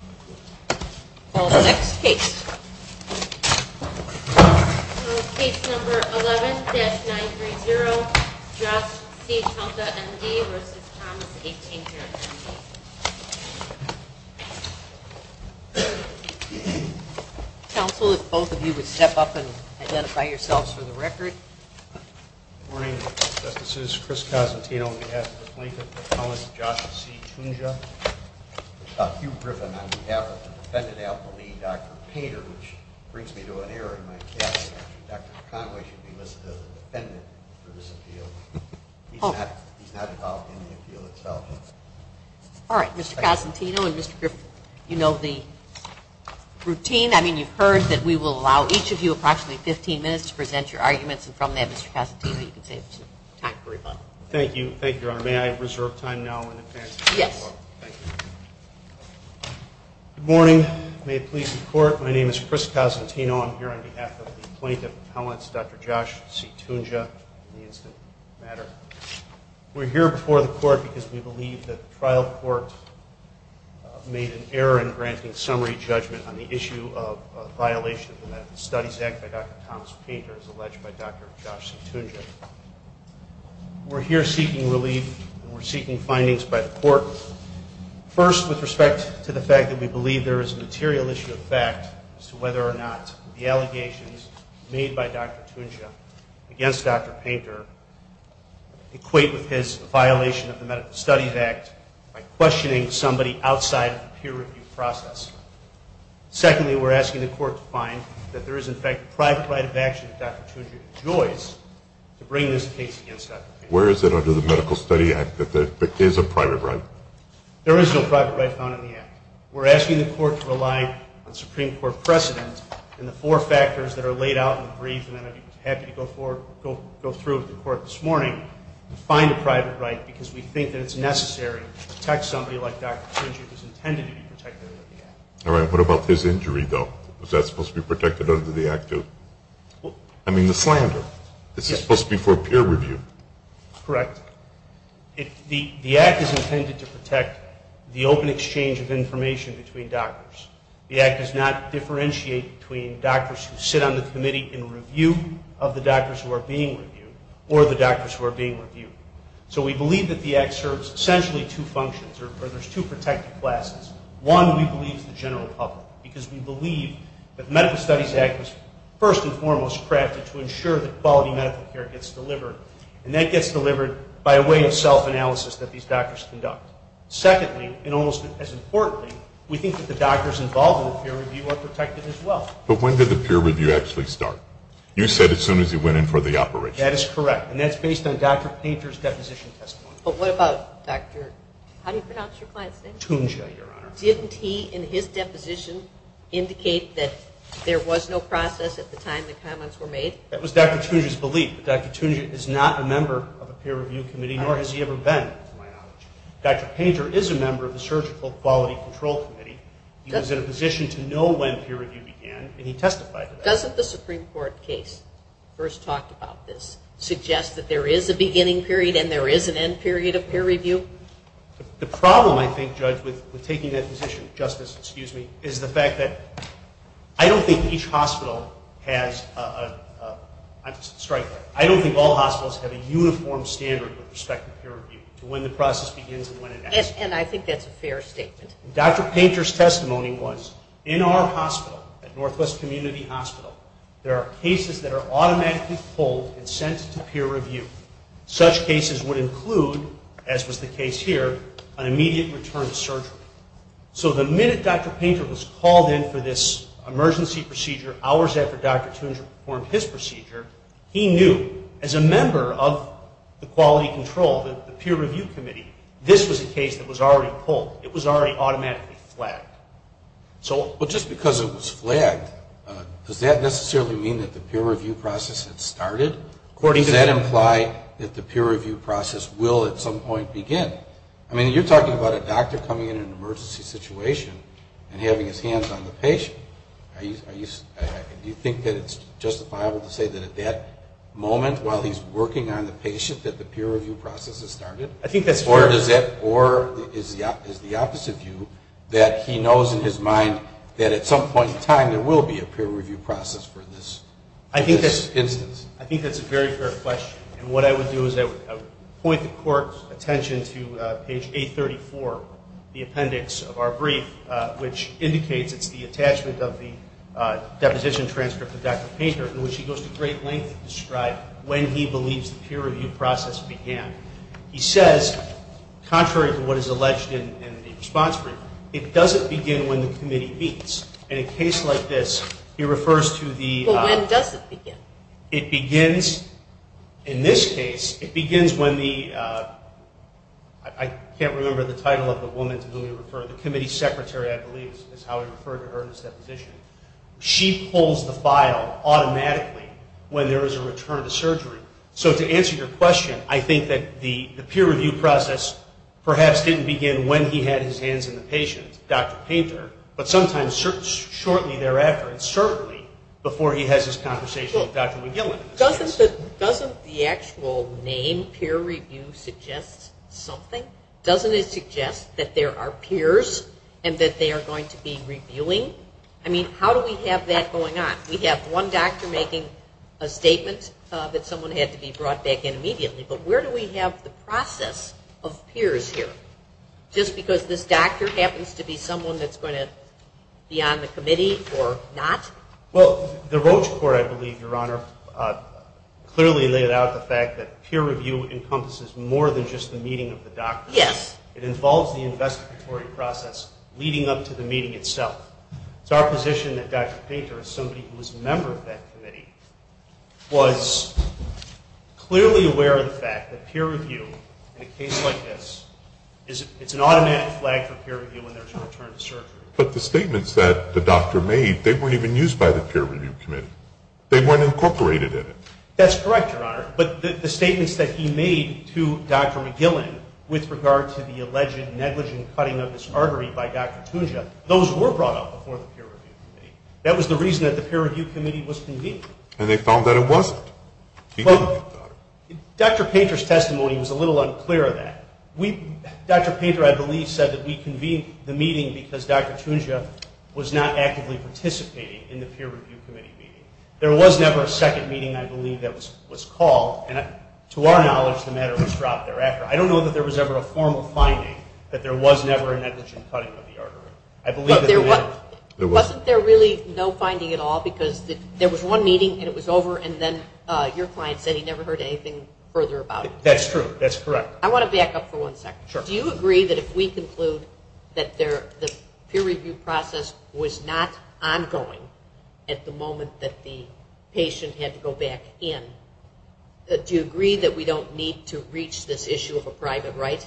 11-930, Josh C. Tunja, M.D. v. Thomas, 18-year-old, M.D. Counsel, if both of you would step up and identify yourselves for the record. Good morning, Justices. Chris Cosentino on behalf of the plaintiff, Thomas C. Tunja. Hugh Griffin on behalf of the defendant, Alpha Lee, Dr. Painter, which brings me to an error in my casting. Dr. Conway should be listed as a defendant for this appeal. He's not involved in the appeal itself. All right. Mr. Cosentino and Mr. Griffin, you know the routine. I mean, you've heard that we will allow each of you approximately 15 minutes to present your arguments. And from that, Mr. Cosentino, you can save time for rebuttal. Thank you. Thank you, Your Honor. May I reserve time now in advance? Yes. Thank you. Good morning. May it please the Court, my name is Chris Cosentino. I'm here on behalf of the plaintiff's appellants, Dr. Josh C. Tunja and the incident matter. We're here before the Court because we believe that the trial court made an error in granting summary judgment on the issue of a violation of the Methodist Studies Act by Dr. Thomas Painter, as alleged by Dr. Josh C. Tunja. We're here seeking relief and we're seeking findings by the Court. First, with respect to the fact that we believe there is a material issue of fact as to whether or not the allegations made by Dr. Tunja against Dr. Painter equate with his violation of the Methodist Studies Act by questioning somebody outside of the peer review process. Secondly, we're asking the Court to find that there is, in fact, a private right of action that Dr. Tunja enjoys to bring this case against Dr. Painter. Where is it under the Medical Study Act that there is a private right? There is no private right found in the Act. We're asking the Court to rely on Supreme Court precedent and the four factors that are laid out in the brief, and then I'd be happy to go through with the Court this morning and find a private right, because we think that it's necessary to protect somebody like Dr. Tunja who's intended to be protected under the Act. All right. What about his injury, though? Was that supposed to be protected under the Act, too? I mean, the slander. This is supposed to be for peer review. Correct. The Act is intended to protect the open exchange of information between doctors. The Act does not differentiate between doctors who sit on the committee in review of the doctors who are being reviewed or the doctors who are being reviewed. So we believe that the Act serves essentially two functions, or there's two protected classes. One, we believe, is the general public, because we believe that the Medical Studies Act was first and foremost crafted to ensure that quality medical care gets delivered, and that gets delivered by a way of self-analysis that these doctors conduct. Secondly, and almost as importantly, we think that the doctors involved in the peer review are protected as well. But when did the peer review actually start? You said as soon as he went in for the operation. That is correct, and that's based on Dr. Painter's deposition testimony. But what about Dr. Tunja, Your Honor? Didn't he, in his deposition, indicate that there was no process at the time the comments were made? That was Dr. Tunja's belief. Dr. Tunja is not a member of a peer review committee, nor has he ever been, to my knowledge. Dr. Painter is a member of the Surgical Quality Control Committee. He was in a position to know when peer review began, and he testified to that. But doesn't the Supreme Court case first talked about this, suggest that there is a beginning period and there is an end period of peer review? The problem, I think, Judge, with taking that position, Justice, excuse me, is the fact that I don't think each hospital has a, I'm sorry, I don't think all hospitals have a uniform standard with respect to peer review, to when the process begins and when it ends. And I think that's a fair statement. Dr. Painter's testimony was, in our hospital, at Northwest Community Hospital, there are cases that are automatically pulled and sent to peer review. Such cases would include, as was the case here, an immediate return to surgery. So the minute Dr. Painter was called in for this emergency procedure, hours after Dr. Tunja performed his procedure, he knew as a member of the quality control, the peer review committee, this was a case that was already pulled. It was already automatically flagged. Well, just because it was flagged, does that necessarily mean that the peer review process had started? Or does that imply that the peer review process will at some point begin? I mean, you're talking about a doctor coming in an emergency situation and having his hands on the patient. Do you think that it's justifiable to say that at that moment, while he's working on the patient, that the peer review process has started? I think that's fair. Or is the opposite view, that he knows in his mind that at some point in time, there will be a peer review process for this instance? I think that's a very fair question. And what I would do is I would point the Court's attention to page 834, the appendix of our brief, which indicates it's the attachment of the deposition transcript of Dr. Painter, in which he goes to great length to describe when he believes the peer review process began. He says, contrary to what is alleged in the response brief, it doesn't begin when the committee beats. In a case like this, he refers to the... But when does it begin? It begins, in this case, it begins when the, I can't remember the title of the woman to whom we refer, the committee secretary, I believe, is how we refer to her in this deposition. She pulls the file automatically when there is a return to surgery. So to answer your question, I think that the peer review process perhaps didn't begin when he had his hands on the patient, Dr. Painter, but sometimes shortly thereafter, and certainly before he has this conversation with Dr. McGillin. Doesn't the actual name peer review suggest something? Doesn't it suggest that there are peers and that they are going to be reviewing? I mean, how do we have that going on? We have one doctor making a statement that someone had to be brought back in immediately, but where do we have the process of peers here? Just because this doctor happens to be someone that's going to be on the committee or not? Well, the Roche Court, I believe, Your Honor, clearly laid out the fact that peer review encompasses more than just the meeting of the doctor. Yes. It involves the investigatory process leading up to the meeting itself. It's our position that Dr. Painter, as somebody who was a member of that committee, was clearly aware of the fact that peer review in a case like this, it's an automatic flag for peer review when there's a return to surgery. But the statements that the doctor made, they weren't even used by the peer review committee. They weren't incorporated in it. That's correct, Your Honor. But the statements that he made to Dr. McGillin with regard to the alleged negligent cutting of his artery by Dr. Tunja, those were brought up before the peer review committee. That was the reason that the peer review committee was convened. And they found that it wasn't. Dr. Painter's testimony was a little unclear of that. Dr. Painter, I believe, said that we convened the meeting because Dr. Tunja was not actively participating in the peer review committee meeting. There was never a second meeting, I believe, that was called. And to our knowledge, the matter was dropped thereafter. I don't know that there was ever a formal finding that there was never a negligent cutting of the artery. Wasn't there really no finding at all? Because there was one meeting, and it was over, and then your client said he never heard anything further about it. That's true. That's correct. I want to back up for one second. Sure. Do you agree that if we conclude that the peer review process was not ongoing at the moment that the patient had to go back in, do you agree that we don't need to reach this issue of a private right?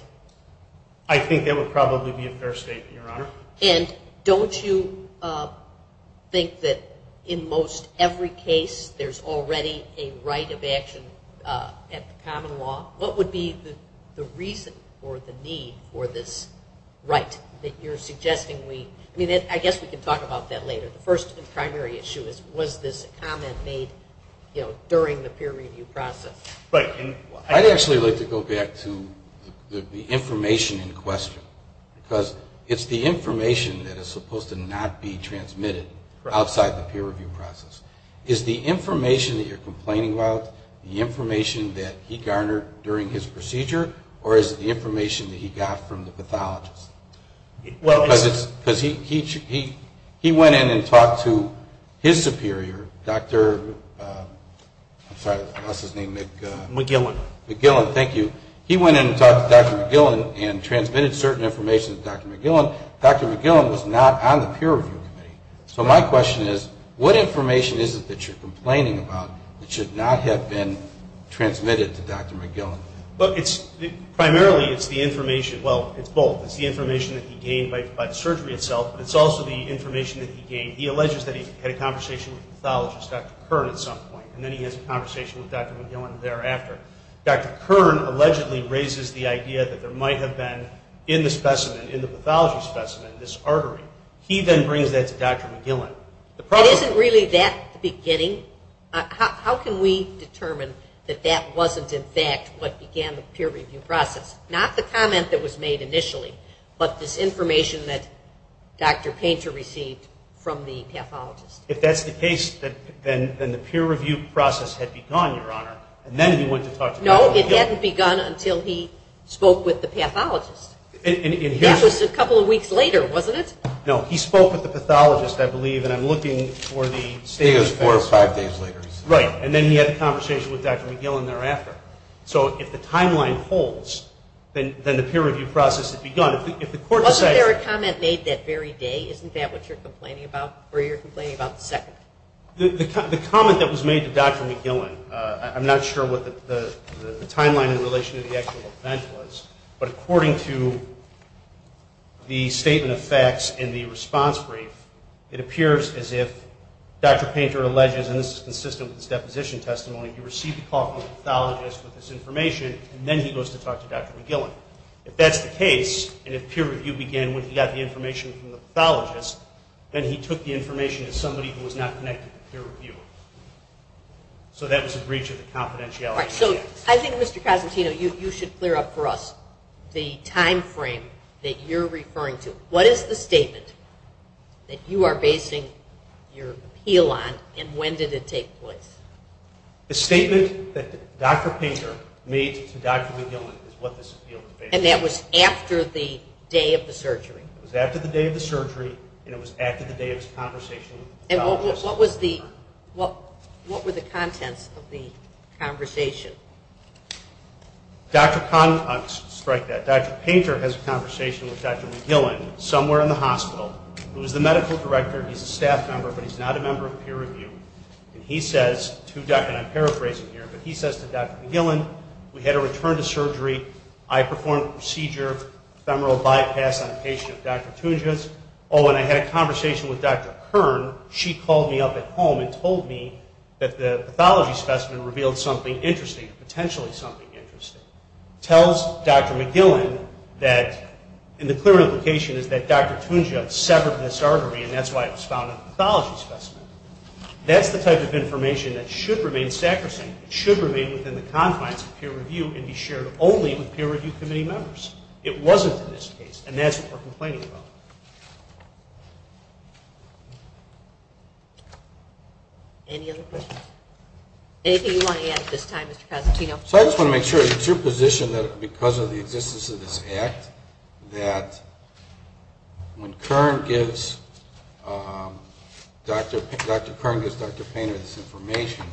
I think that would probably be a fair statement, Your Honor. And don't you think that in most every case there's already a right of action at the common law? What would be the reason or the need for this right that you're suggesting? The first and primary issue is was this comment made during the peer review process? I'd actually like to go back to the information in question because it's the information that is supposed to not be transmitted outside the peer review process. Is the information that you're complaining about the information that he garnered during his procedure, or is it the information that he got from the pathologist? Because he went in and talked to his superior, Dr. I'm sorry, what's his name? McGillan. McGillan, thank you. He went in and talked to Dr. McGillan and transmitted certain information to Dr. McGillan. Dr. McGillan was not on the peer review committee. So my question is what information is it that you're complaining about that should not have been transmitted to Dr. McGillan? Primarily it's the information, well, it's both. It's the information that he gained by the surgery itself, but it's also the information that he gained. He alleges that he had a conversation with the pathologist, Dr. Kern, at some point, and then he has a conversation with Dr. McGillan thereafter. Dr. Kern allegedly raises the idea that there might have been in the specimen, in the pathology specimen, this artery. He then brings that to Dr. McGillan. It isn't really that at the beginning. How can we determine that that wasn't, in fact, what began the peer review process? Not the comment that was made initially, but this information that Dr. Painter received from the pathologist. If that's the case, then the peer review process had begun, Your Honor, and then he went to talk to Dr. McGillan. No, it hadn't begun until he spoke with the pathologist. That was a couple of weeks later, wasn't it? No, he spoke with the pathologist, I believe, and I'm looking for the statement of facts. I think it was four or five days later. Right, and then he had a conversation with Dr. McGillan thereafter. So if the timeline holds, then the peer review process had begun. Wasn't there a comment made that very day? Isn't that what you're complaining about, or you're complaining about the second? The comment that was made to Dr. McGillan, I'm not sure what the timeline in relation to the actual event was, but according to the statement of facts in the response brief, it appears as if Dr. Painter alleges, and this is consistent with his deposition testimony, he received a call from the pathologist with this information, and then he goes to talk to Dr. McGillan. If that's the case, and if peer review began when he got the information from the pathologist, then he took the information to somebody who was not connected to peer review. So that was a breach of the confidentiality. All right, so I think, Mr. Cosentino, you should clear up for us the time frame that you're referring to. What is the statement that you are basing your appeal on, and when did it take place? The statement that Dr. Painter made to Dr. McGillan is what this appeal was based on. And that was after the day of the surgery? It was after the day of the surgery, and it was after the day of his conversation with the pathologist. And what were the contents of the conversation? I'll strike that. Dr. Painter has a conversation with Dr. McGillan somewhere in the hospital. He was the medical director. He's a staff member, but he's not a member of peer review. And he says to Dr. McGillan, we had a return to surgery. I performed a procedure of femoral bypass on a patient of Dr. Tunja's. Oh, and I had a conversation with Dr. Kern. She called me up at home and told me that the pathology specimen revealed something interesting, potentially something interesting. And this tells Dr. McGillan that, and the clear implication is that Dr. Tunja severed this artery, and that's why it was found in the pathology specimen. That's the type of information that should remain sacrosanct. It should remain within the confines of peer review and be shared only with peer review committee members. It wasn't in this case, and that's what we're complaining about. Anything you want to add at this time, Mr. Cosentino? So I just want to make sure. It's your position that because of the existence of this act, that when Dr. Kern gives Dr. Painter this information,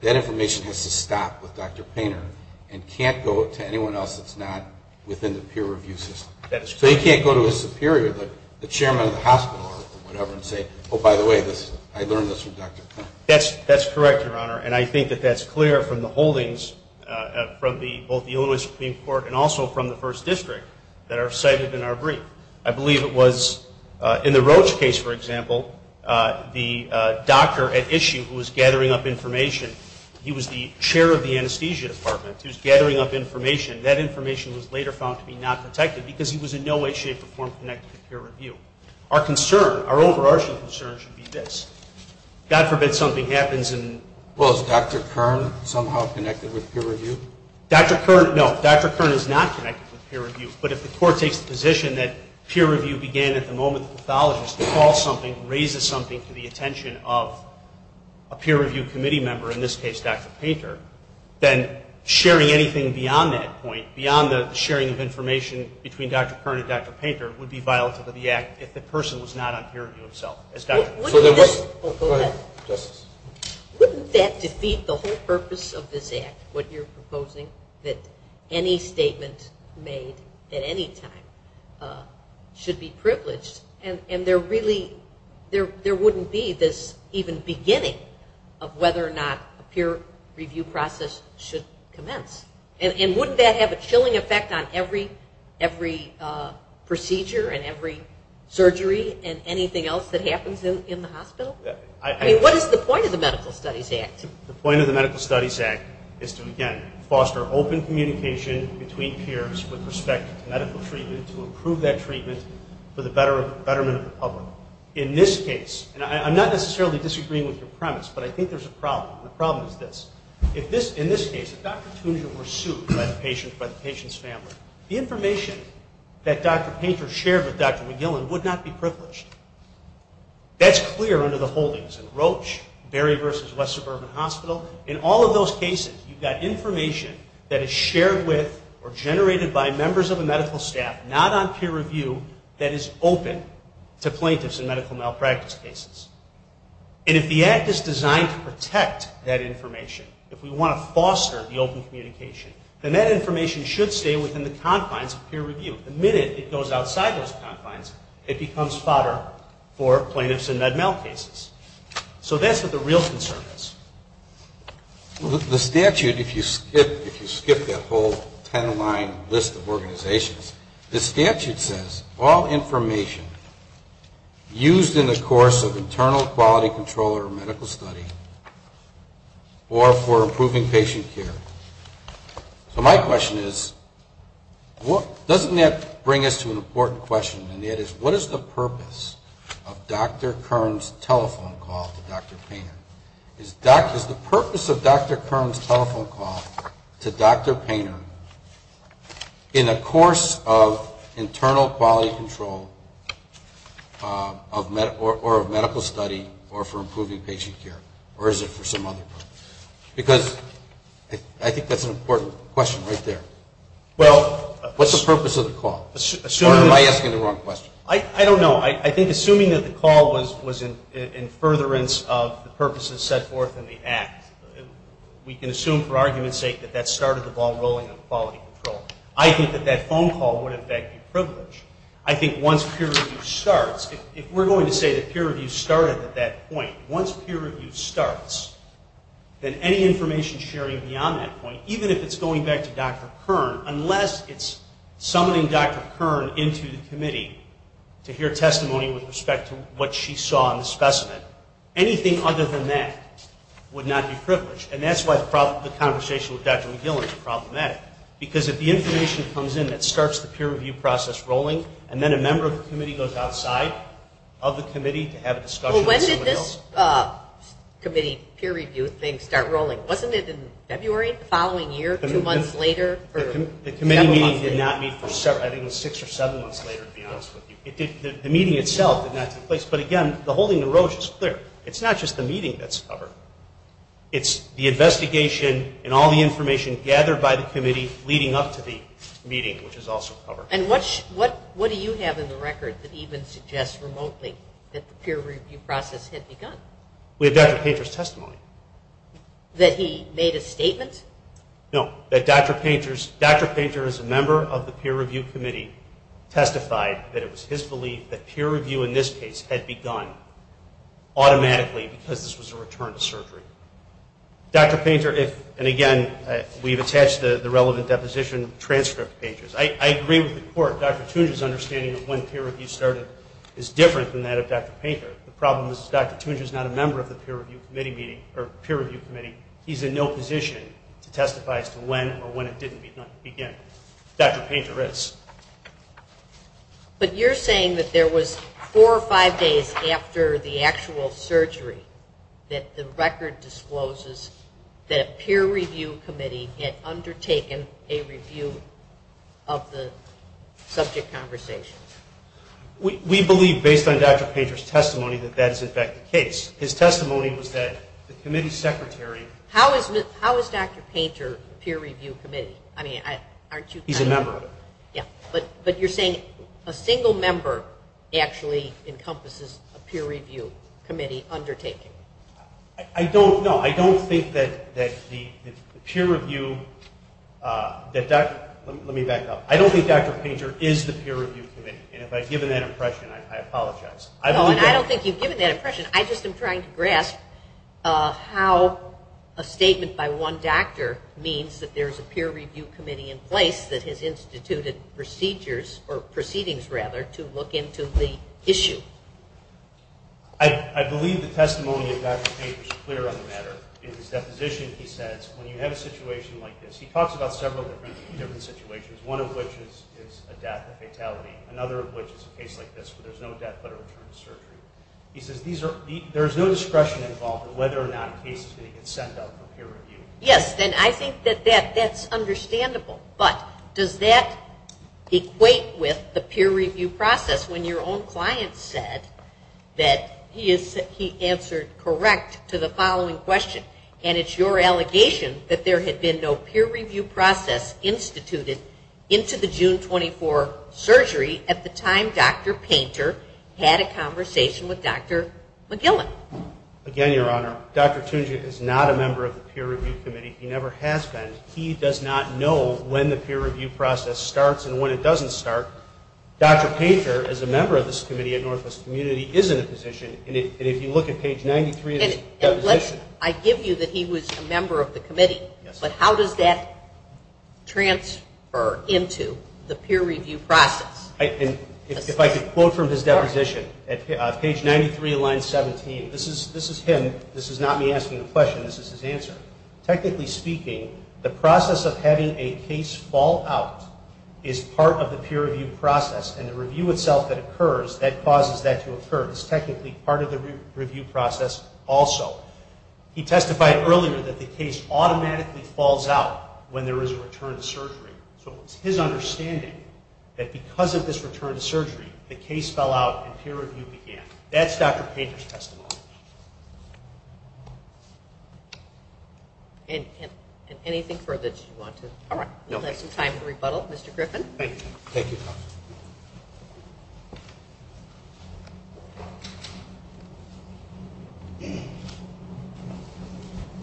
that information has to stop with Dr. Painter and can't go to anyone else that's not within the peer review system. So you can't go to his superior, the chairman of the hospital or whatever, and say, oh, by the way, I learned this from Dr. Painter. That's correct, Your Honor. And I think that that's clear from the holdings from both the Illinois Supreme Court and also from the First District that are cited in our brief. I believe it was in the Roach case, for example, the doctor at issue who was gathering up information, he was the chair of the anesthesia department. He was gathering up information. That information was later found to be not protected because he was in no way, shape, or form connected to peer review. Our concern, our overarching concern should be this. God forbid something happens and... Well, is Dr. Kern somehow connected with peer review? Dr. Kern, no. Dr. Kern is not connected with peer review. But if the court takes the position that peer review began at the moment the pathologist calls something, raises something to the attention of a peer review committee member, in this case Dr. Painter, then sharing anything beyond that point, beyond the sharing of information between Dr. Kern and Dr. Painter, would be violative of the act if the person was not on peer review itself. Go ahead. Wouldn't that defeat the whole purpose of this act, what you're proposing, that any statement made at any time should be privileged and there really wouldn't be this even beginning of whether or not a peer review process should commence? And wouldn't that have a chilling effect on every procedure and every surgery and anything else that happens in the hospital? I mean, what is the point of the Medical Studies Act? The point of the Medical Studies Act is to, again, foster open communication between peers with respect to medical treatment to improve that treatment for the betterment of the public. In this case, and I'm not necessarily disagreeing with your premise, but I think there's a problem. The problem is this. In this case, if Dr. Tunja were sued by the patient's family, the information that Dr. Painter shared with Dr. McGillen would not be privileged. That's clear under the holdings in Roche, Berry v. West Suburban Hospital. In all of those cases, you've got information that is shared with or generated by members of a medical staff not on peer review that is open to plaintiffs in medical malpractice cases. And if the act is designed to protect that information, if we want to foster the open communication, then that information should stay within the confines of peer review. The minute it goes outside those confines, it becomes fodder for plaintiffs in med mal cases. So that's what the real concern is. The statute, if you skip that whole ten-line list of organizations, the statute says all information used in the course of internal quality control or medical study or for improving patient care. So my question is, doesn't that bring us to an important question? And that is, what is the purpose of Dr. Kern's telephone call to Dr. Painter? Is the purpose of Dr. Kern's telephone call to Dr. Painter in the course of or is it for some other purpose? Because I think that's an important question right there. What's the purpose of the call? Or am I asking the wrong question? I don't know. I think assuming that the call was in furtherance of the purposes set forth in the act, we can assume for argument's sake that that started the ball rolling in quality control. I think that that phone call would, in fact, be privileged. I think once peer review starts, if we're going to say that peer review started at that point, once peer review starts, then any information sharing beyond that point, even if it's going back to Dr. Kern, unless it's summoning Dr. Kern into the committee to hear testimony with respect to what she saw in the specimen, anything other than that would not be privileged. And that's why the conversation with Dr. McGill is problematic. Because if the information comes in that starts the peer review process rolling and then a member of the committee goes outside of the committee to have a discussion with someone else. Well, when did this committee peer review thing start rolling? Wasn't it in February the following year, two months later? The committee meeting did not meet for six or seven months later, to be honest with you. The meeting itself did not take place. But, again, the holding of Roche is clear. It's not just the meeting that's covered. It's the investigation and all the information gathered by the committee leading up to the meeting, which is also covered. And what do you have in the record that even suggests remotely that the peer review process had begun? We have Dr. Painter's testimony. That he made a statement? No, that Dr. Painter, as a member of the peer review committee, testified that it was his belief that peer review in this case had begun automatically because this was a return to surgery. Dr. Painter, and, again, we've attached the relevant deposition transcript to Painter's. I agree with the court. Dr. Tunja's understanding of when peer review started is different than that of Dr. Painter. The problem is Dr. Tunja is not a member of the peer review committee. He's in no position to testify as to when or when it didn't begin. Dr. Painter is. But you're saying that there was four or five days after the actual surgery that the record discloses that a peer review committee had undertaken a review of the subject conversation? We believe, based on Dr. Painter's testimony, that that is, in fact, the case. His testimony was that the committee secretary How is Dr. Painter a peer review committee? He's a member. But you're saying a single member actually encompasses a peer review committee undertaking? I don't know. I don't think that the peer review that Dr. Let me back up. I don't think Dr. Painter is the peer review committee. And if I've given that impression, I apologize. I don't think you've given that impression. I just am trying to grasp how a statement by one doctor means that there's a peer review committee in place that has instituted procedures or proceedings, rather, to look into the issue. I believe the testimony of Dr. Painter is clear on the matter. In his deposition, he says, when you have a situation like this, he talks about several different situations, one of which is a death, a fatality, another of which is a case like this where there's no death but a return to surgery. He says there is no discretion involved in whether or not a case is going to get sent up for peer review. Yes, and I think that that's understandable. But does that equate with the peer review process when your own client said that he answered correct to the following question, and it's your allegation that there had been no peer review process instituted into the June 24 surgery at the time Dr. Painter had a conversation with Dr. McGillick? Again, Your Honor, Dr. Tunjian is not a member of the peer review committee. He never has been. He does not know when the peer review process starts and when it doesn't start. Dr. Painter, as a member of this committee at Northwest Community, is in a position, and if you look at page 93 of his deposition. I give you that he was a member of the committee, but how does that transfer into the peer review process? If I could quote from his deposition, page 93, line 17. This is him. This is not me asking the question. This is his answer. Technically speaking, the process of having a case fall out is part of the peer review process, and the review itself that occurs, that causes that to occur. It's technically part of the review process also. He testified earlier that the case automatically falls out when there is a return to surgery. So it's his understanding that because of this return to surgery, the case fell out and peer review began. That's Dr. Painter's testimony. Anything further that you want to? All right. We'll have some time to rebuttal. Mr. Griffin? Thank you.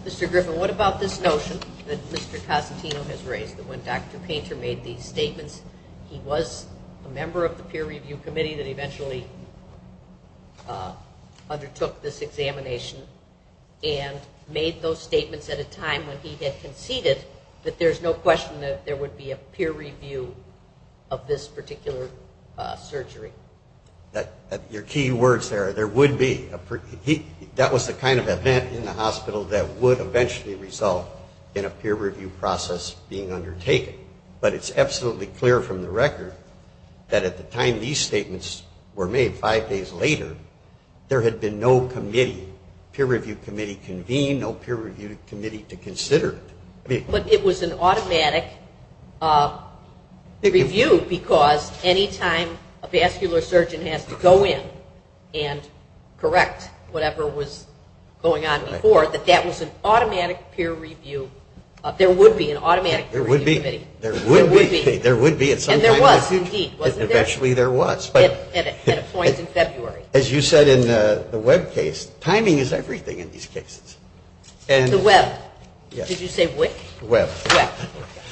Mr. Griffin, what about this notion that Mr. Cosentino has raised, that when Dr. Painter made these statements, he was a member of the peer review committee that eventually undertook this examination and made those statements at a time when he had conceded that there's no question that there would be a peer review of this particular surgery? Your key words there are there would be. That was the kind of event in the hospital that would eventually result in a peer review process being undertaken. But it's absolutely clear from the record that at the time these statements were made, five days later, there had been no committee, peer review committee convened, no peer review committee to consider it. But it was an automatic review because any time a vascular surgeon has to go in and correct whatever was going on before, that that was an automatic peer review. There would be an automatic peer review committee. There would be. There would be. And there was indeed, wasn't there? Eventually there was. At a point in February. As you said in the Webb case, timing is everything in these cases. The Webb? Yes. Did you say Wick? Webb.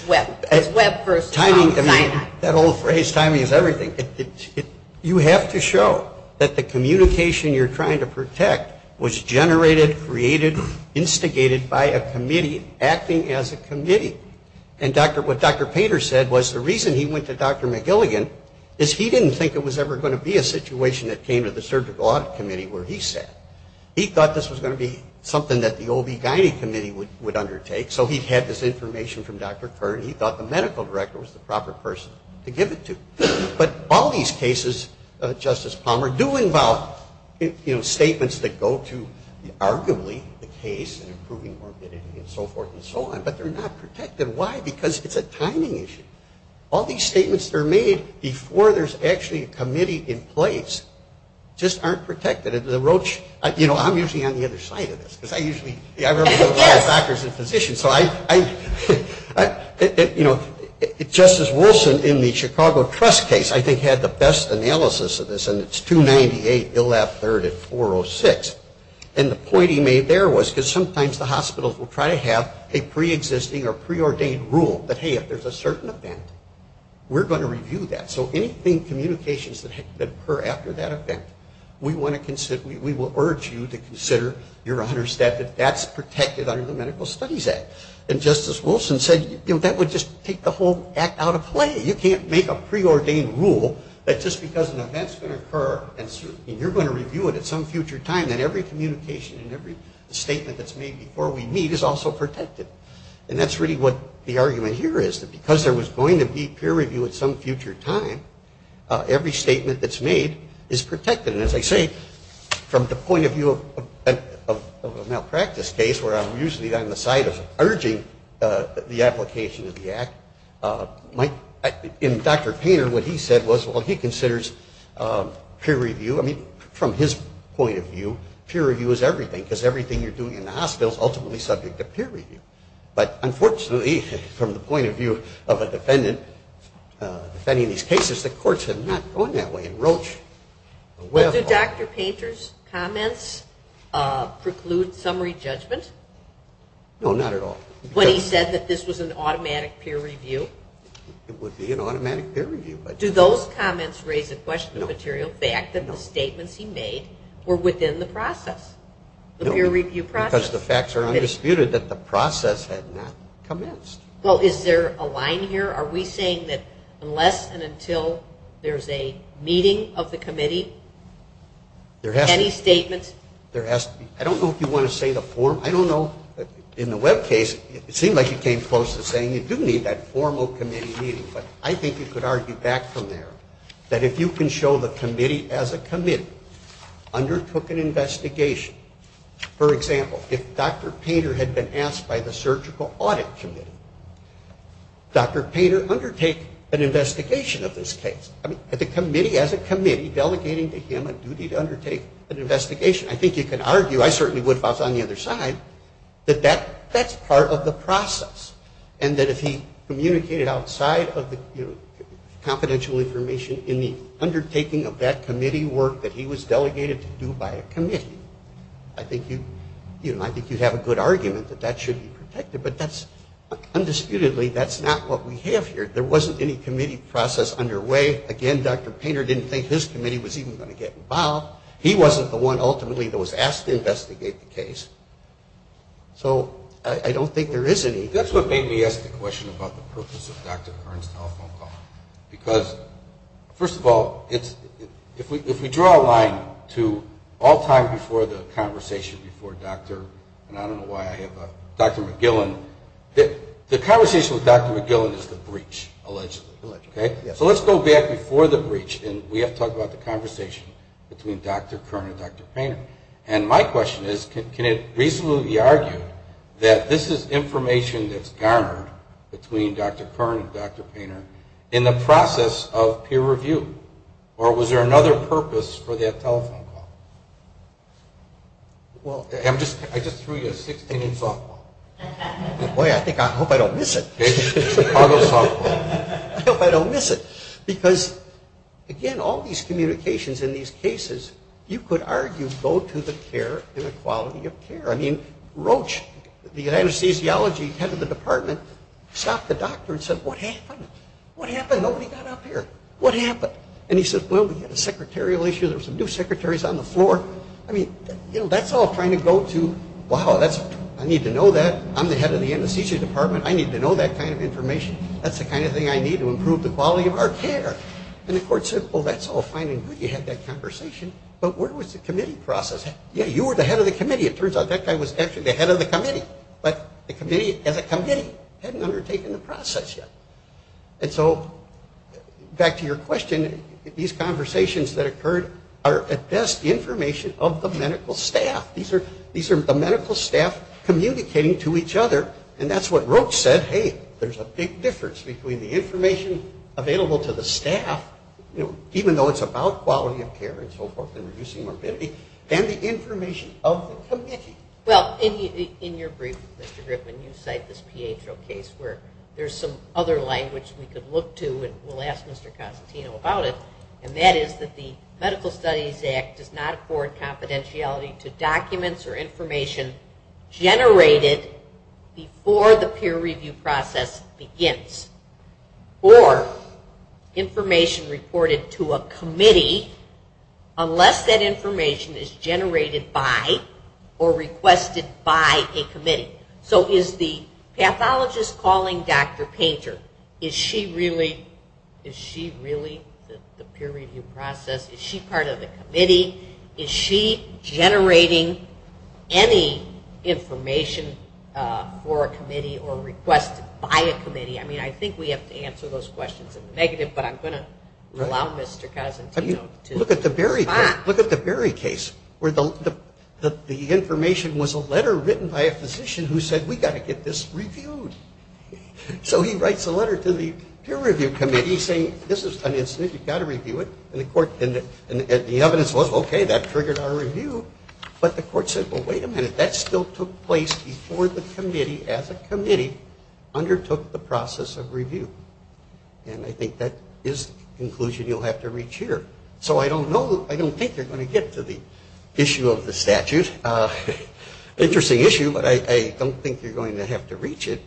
Webb. It's Webb versus time. That old phrase, timing is everything. You have to show that the communication you're trying to protect was generated, created, instigated by a committee acting as a committee. And what Dr. Painter said was the reason he went to Dr. McGilligan is he didn't think it was ever going to be a situation that came to the surgical audit committee where he sat. He thought this was going to be something that the OB-GYN committee would undertake. So he had this information from Dr. Kern. He thought the medical director was the proper person to give it to. But all these cases, Justice Palmer, do involve, you know, statements that go to arguably the case and improving morbidity and so forth and so on. But they're not protected. Why? Because it's a timing issue. All these statements that are made before there's actually a committee in place just aren't protected. The Roche, you know, I'm usually on the other side of this. Because I usually, I remember a lot of doctors and physicians. So I, you know, Justice Wilson in the Chicago Trust case, I think, had the best analysis of this. And it's 298-113-406. And the point he made there was because sometimes the hospitals will try to have a preexisting or preordained rule that, hey, if there's a certain event, we're going to review that. So anything communications that occur after that event, we want to consider, we will urge you to consider, Your Honor, that that's protected under the Medical Studies Act. And Justice Wilson said, you know, that would just take the whole act out of play. You can't make a preordained rule that just because an event's going to occur and you're going to review it at some future time, that every communication and every statement that's made before we meet is also protected. And that's really what the argument here is, that because there was going to be peer review at some future time, every statement that's made is protected. And as I say, from the point of view of a malpractice case, where I'm usually on the side of urging the application of the act, in Dr. Painter, what he said was, well, he considers peer review, I mean, from his point of view, peer review is everything, because everything you're doing in the hospital is ultimately subject to peer review. But unfortunately, from the point of view of a defendant defending these cases, the courts have not gone that way in Roche. Well, do Dr. Painter's comments preclude summary judgment? No, not at all. When he said that this was an automatic peer review? It would be an automatic peer review. Do those comments raise the question of the material fact that the statements he made were within the process, the peer review process? No, because the facts are undisputed that the process had not commenced. Well, is there a line here? Are we saying that unless and until there's a meeting of the committee, any statements? There has to be. I don't know if you want to say the form. I don't know. In the Webb case, it seemed like you came close to saying you do need that formal committee meeting. But I think you could argue back from there that if you can show the committee as a committee undertook an investigation, for example, if Dr. Painter had been asked by the surgical audit committee, Dr. Painter undertake an investigation of this case. The committee as a committee delegating to him a duty to undertake an investigation. I think you can argue, I certainly would if I was on the other side, that that's part of the process. And that if he communicated outside of the confidential information in the undertaking of that committee work that he was delegated to do by a committee, but undisputedly that's not what we have here. There wasn't any committee process underway. Again, Dr. Painter didn't think his committee was even going to get involved. He wasn't the one ultimately that was asked to investigate the case. So I don't think there is any. That's what made me ask the question about the purpose of Dr. Kern's telephone call. Because, first of all, if we draw a line to all time before the conversation before Dr. and I don't know why I have a Dr. McGillen. The conversation with Dr. McGillen is the breach, allegedly. So let's go back before the breach. And we have to talk about the conversation between Dr. Kern and Dr. Painter. And my question is, can it reasonably be argued that this is information that's garnered between Dr. Kern and Dr. Painter in the process of peer review? Or was there another purpose for that telephone call? I just threw you a 16-inch softball. Boy, I hope I don't miss it. Chicago softball. I hope I don't miss it. Because, again, all these communications in these cases, you could argue, go to the care and the quality of care. I mean, Roche, the anesthesiology head of the department, stopped the doctor and said, what happened? What happened? Nobody got up here. What happened? And he said, well, we had a secretarial issue. There were some new secretaries on the floor. I mean, that's all trying to go to, wow, I need to know that. I'm the head of the anesthesia department. I need to know that kind of information. That's the kind of thing I need to improve the quality of our care. And the court said, well, that's all fine and good. You had that conversation. But where was the committee process? Yeah, you were the head of the committee. It turns out that guy was actually the head of the committee. But the committee, as a committee, hadn't undertaken the process yet. And so back to your question, these conversations that occurred are at best information of the medical staff. These are the medical staff communicating to each other. And that's what Roche said, hey, there's a big difference between the information available to the staff, even though it's about quality of care and so forth and reducing morbidity, and the information of the committee. Well, in your brief, Mr. Griffin, you cite this Pietro case where there's some other language we could look to, and we'll ask Mr. Cosentino about it, and that is that the Medical Studies Act does not afford confidentiality to documents or information generated before the peer review process begins, or information reported to a committee unless that information is generated by or requested by a committee. So is the pathologist calling Dr. Painter? Is she really the peer review process? Is she part of the committee? Is she generating any information for a committee or requested by a committee? I mean, I think we have to answer those questions in the negative, but I'm going to allow Mr. Cosentino to respond. Look at the Berry case where the information was a letter written by a physician who said, we've got to get this reviewed. So he writes a letter to the peer review committee saying, this is an incident, you've got to review it, and the evidence was, okay, that triggered our review. But the court said, well, wait a minute, that still took place before the committee, as a committee, undertook the process of review. And I think that is the conclusion you'll have to reach here. So I don't think they're going to get to the issue of the statute. Interesting issue, but I don't think you're going to have to reach it.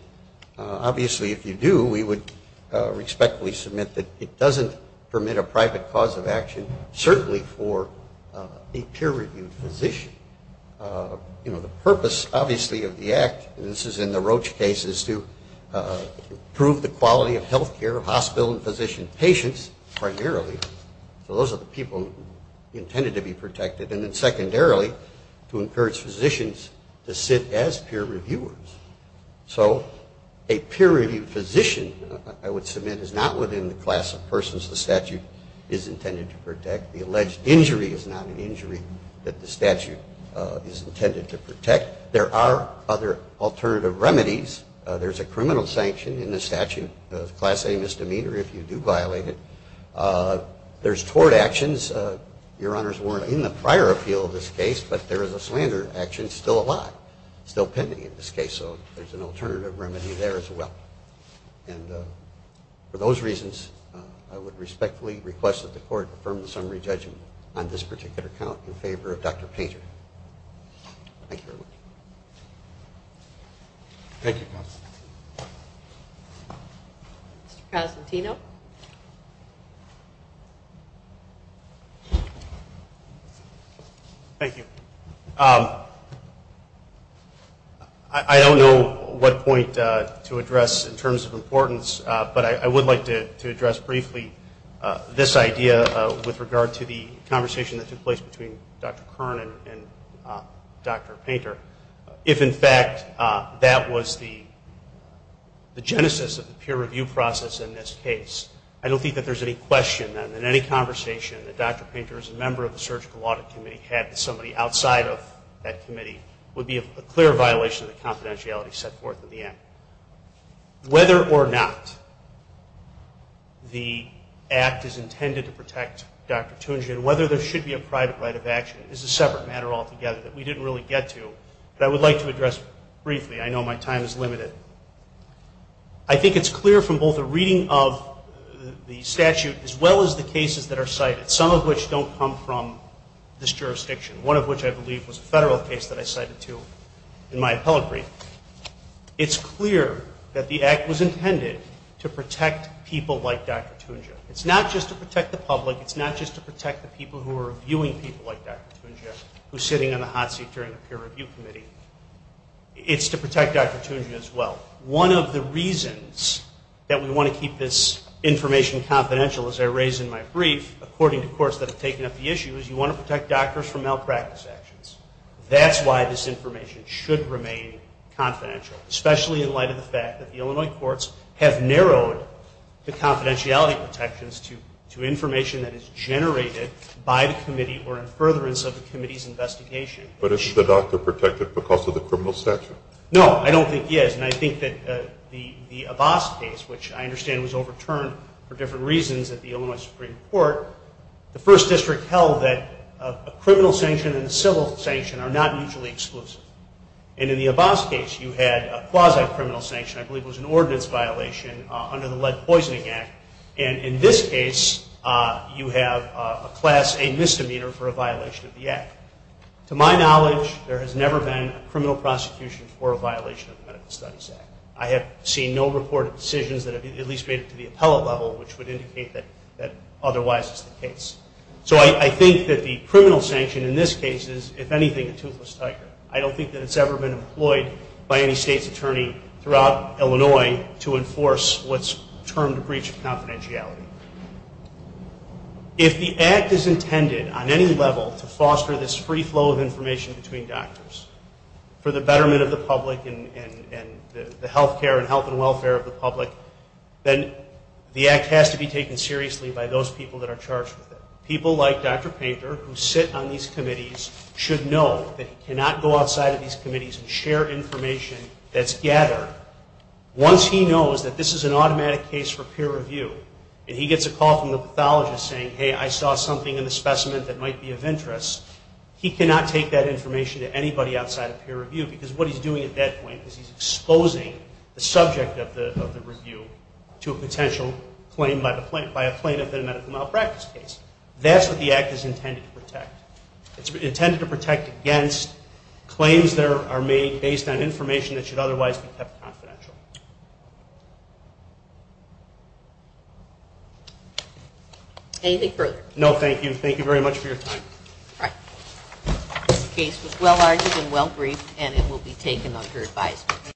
Obviously, if you do, we would respectfully submit that it doesn't permit a private cause of action, certainly for a peer-reviewed physician. The purpose, obviously, of the act, and this is in the Roche case, is to improve the quality of health care of hospital and physician patients primarily. And then secondarily, to encourage physicians to sit as peer reviewers. So a peer-reviewed physician, I would submit, is not within the class of persons the statute is intended to protect. The alleged injury is not an injury that the statute is intended to protect. There are other alternative remedies. There's a criminal sanction in the statute, Class A misdemeanor, if you do violate it. There's tort actions. Your honors weren't in the prior appeal of this case, but there is a slander action still alive, still pending in this case, so there's an alternative remedy there as well. And for those reasons, I would respectfully request that the court affirm the summary judgment on this particular count in favor of Dr. Painter. Thank you very much. Thank you, counsel. Mr. Cosentino. Thank you. I don't know what point to address in terms of importance, but I would like to address briefly this idea with regard to the conversation that took place between Dr. Kern and Dr. Painter. If, in fact, that was the genesis of the peer review process in this case, I don't think that there's any question then in any conversation that Dr. Painter as a member of the Surgical Audit Committee had with somebody outside of that committee would be a clear violation of the confidentiality set forth in the act. Whether or not the act is intended to protect Dr. Tunjian, whether there should be a private right of action is a separate matter altogether that we didn't really get to, but I would like to address briefly. I know my time is limited. I think it's clear from both the reading of the statute as well as the cases that are cited, some of which don't come from this jurisdiction, one of which I believe was a federal case that I cited to in my appellate brief. It's clear that the act was intended to protect people like Dr. Tunjian. It's not just to protect the public. It's not just to protect the people who are reviewing people like Dr. Tunjian who's sitting in the hot seat during the peer review committee. It's to protect Dr. Tunjian as well. One of the reasons that we want to keep this information confidential, as I raise in my brief, according to courts that have taken up the issue, is you want to protect doctors from malpractice actions. That's why this information should remain confidential, especially in light of the fact that the Illinois courts have narrowed the confidentiality protections to information that is generated by the committee or in furtherance of the committee's investigation. But isn't the doctor protected because of the criminal statute? No, I don't think he is. And I think that the Abbas case, which I understand was overturned for different reasons at the Illinois Supreme Court, the first district held that a criminal sanction and a civil sanction are not mutually exclusive. And in the Abbas case, you had a quasi-criminal sanction. I believe it was an ordinance violation under the Lead Poisoning Act. And in this case, you have a Class A misdemeanor for a violation of the act. To my knowledge, there has never been a criminal prosecution for a violation of the Medical Studies Act. I have seen no reported decisions that have at least made it to the appellate level, which would indicate that otherwise is the case. So I think that the criminal sanction in this case is, if anything, a toothless tiger. I don't think that it's ever been employed by any state's attorney throughout Illinois to enforce what's termed a breach of confidentiality. If the act is intended on any level to foster this free flow of information between doctors for the betterment of the public and the health care and health and welfare of the public, then the act has to be taken seriously by those people that are charged with it. People like Dr. Painter, who sit on these committees, should know that he cannot go outside of these committees and share information that's gathered. Once he knows that this is an automatic case for peer review, and he gets a call from the pathologist saying, hey, I saw something in the specimen that might be of interest, he cannot take that information to anybody outside of peer review, because what he's doing at that point is he's exposing the subject of the review to a potential claim by a plaintiff in a medical malpractice case. That's what the act is intended to protect. It's intended to protect against claims that are made based on information that should otherwise be kept confidential. Anything further? No, thank you. Thank you very much for your time. All right. This case was well-argued and well-briefed, and it will be taken under advisement.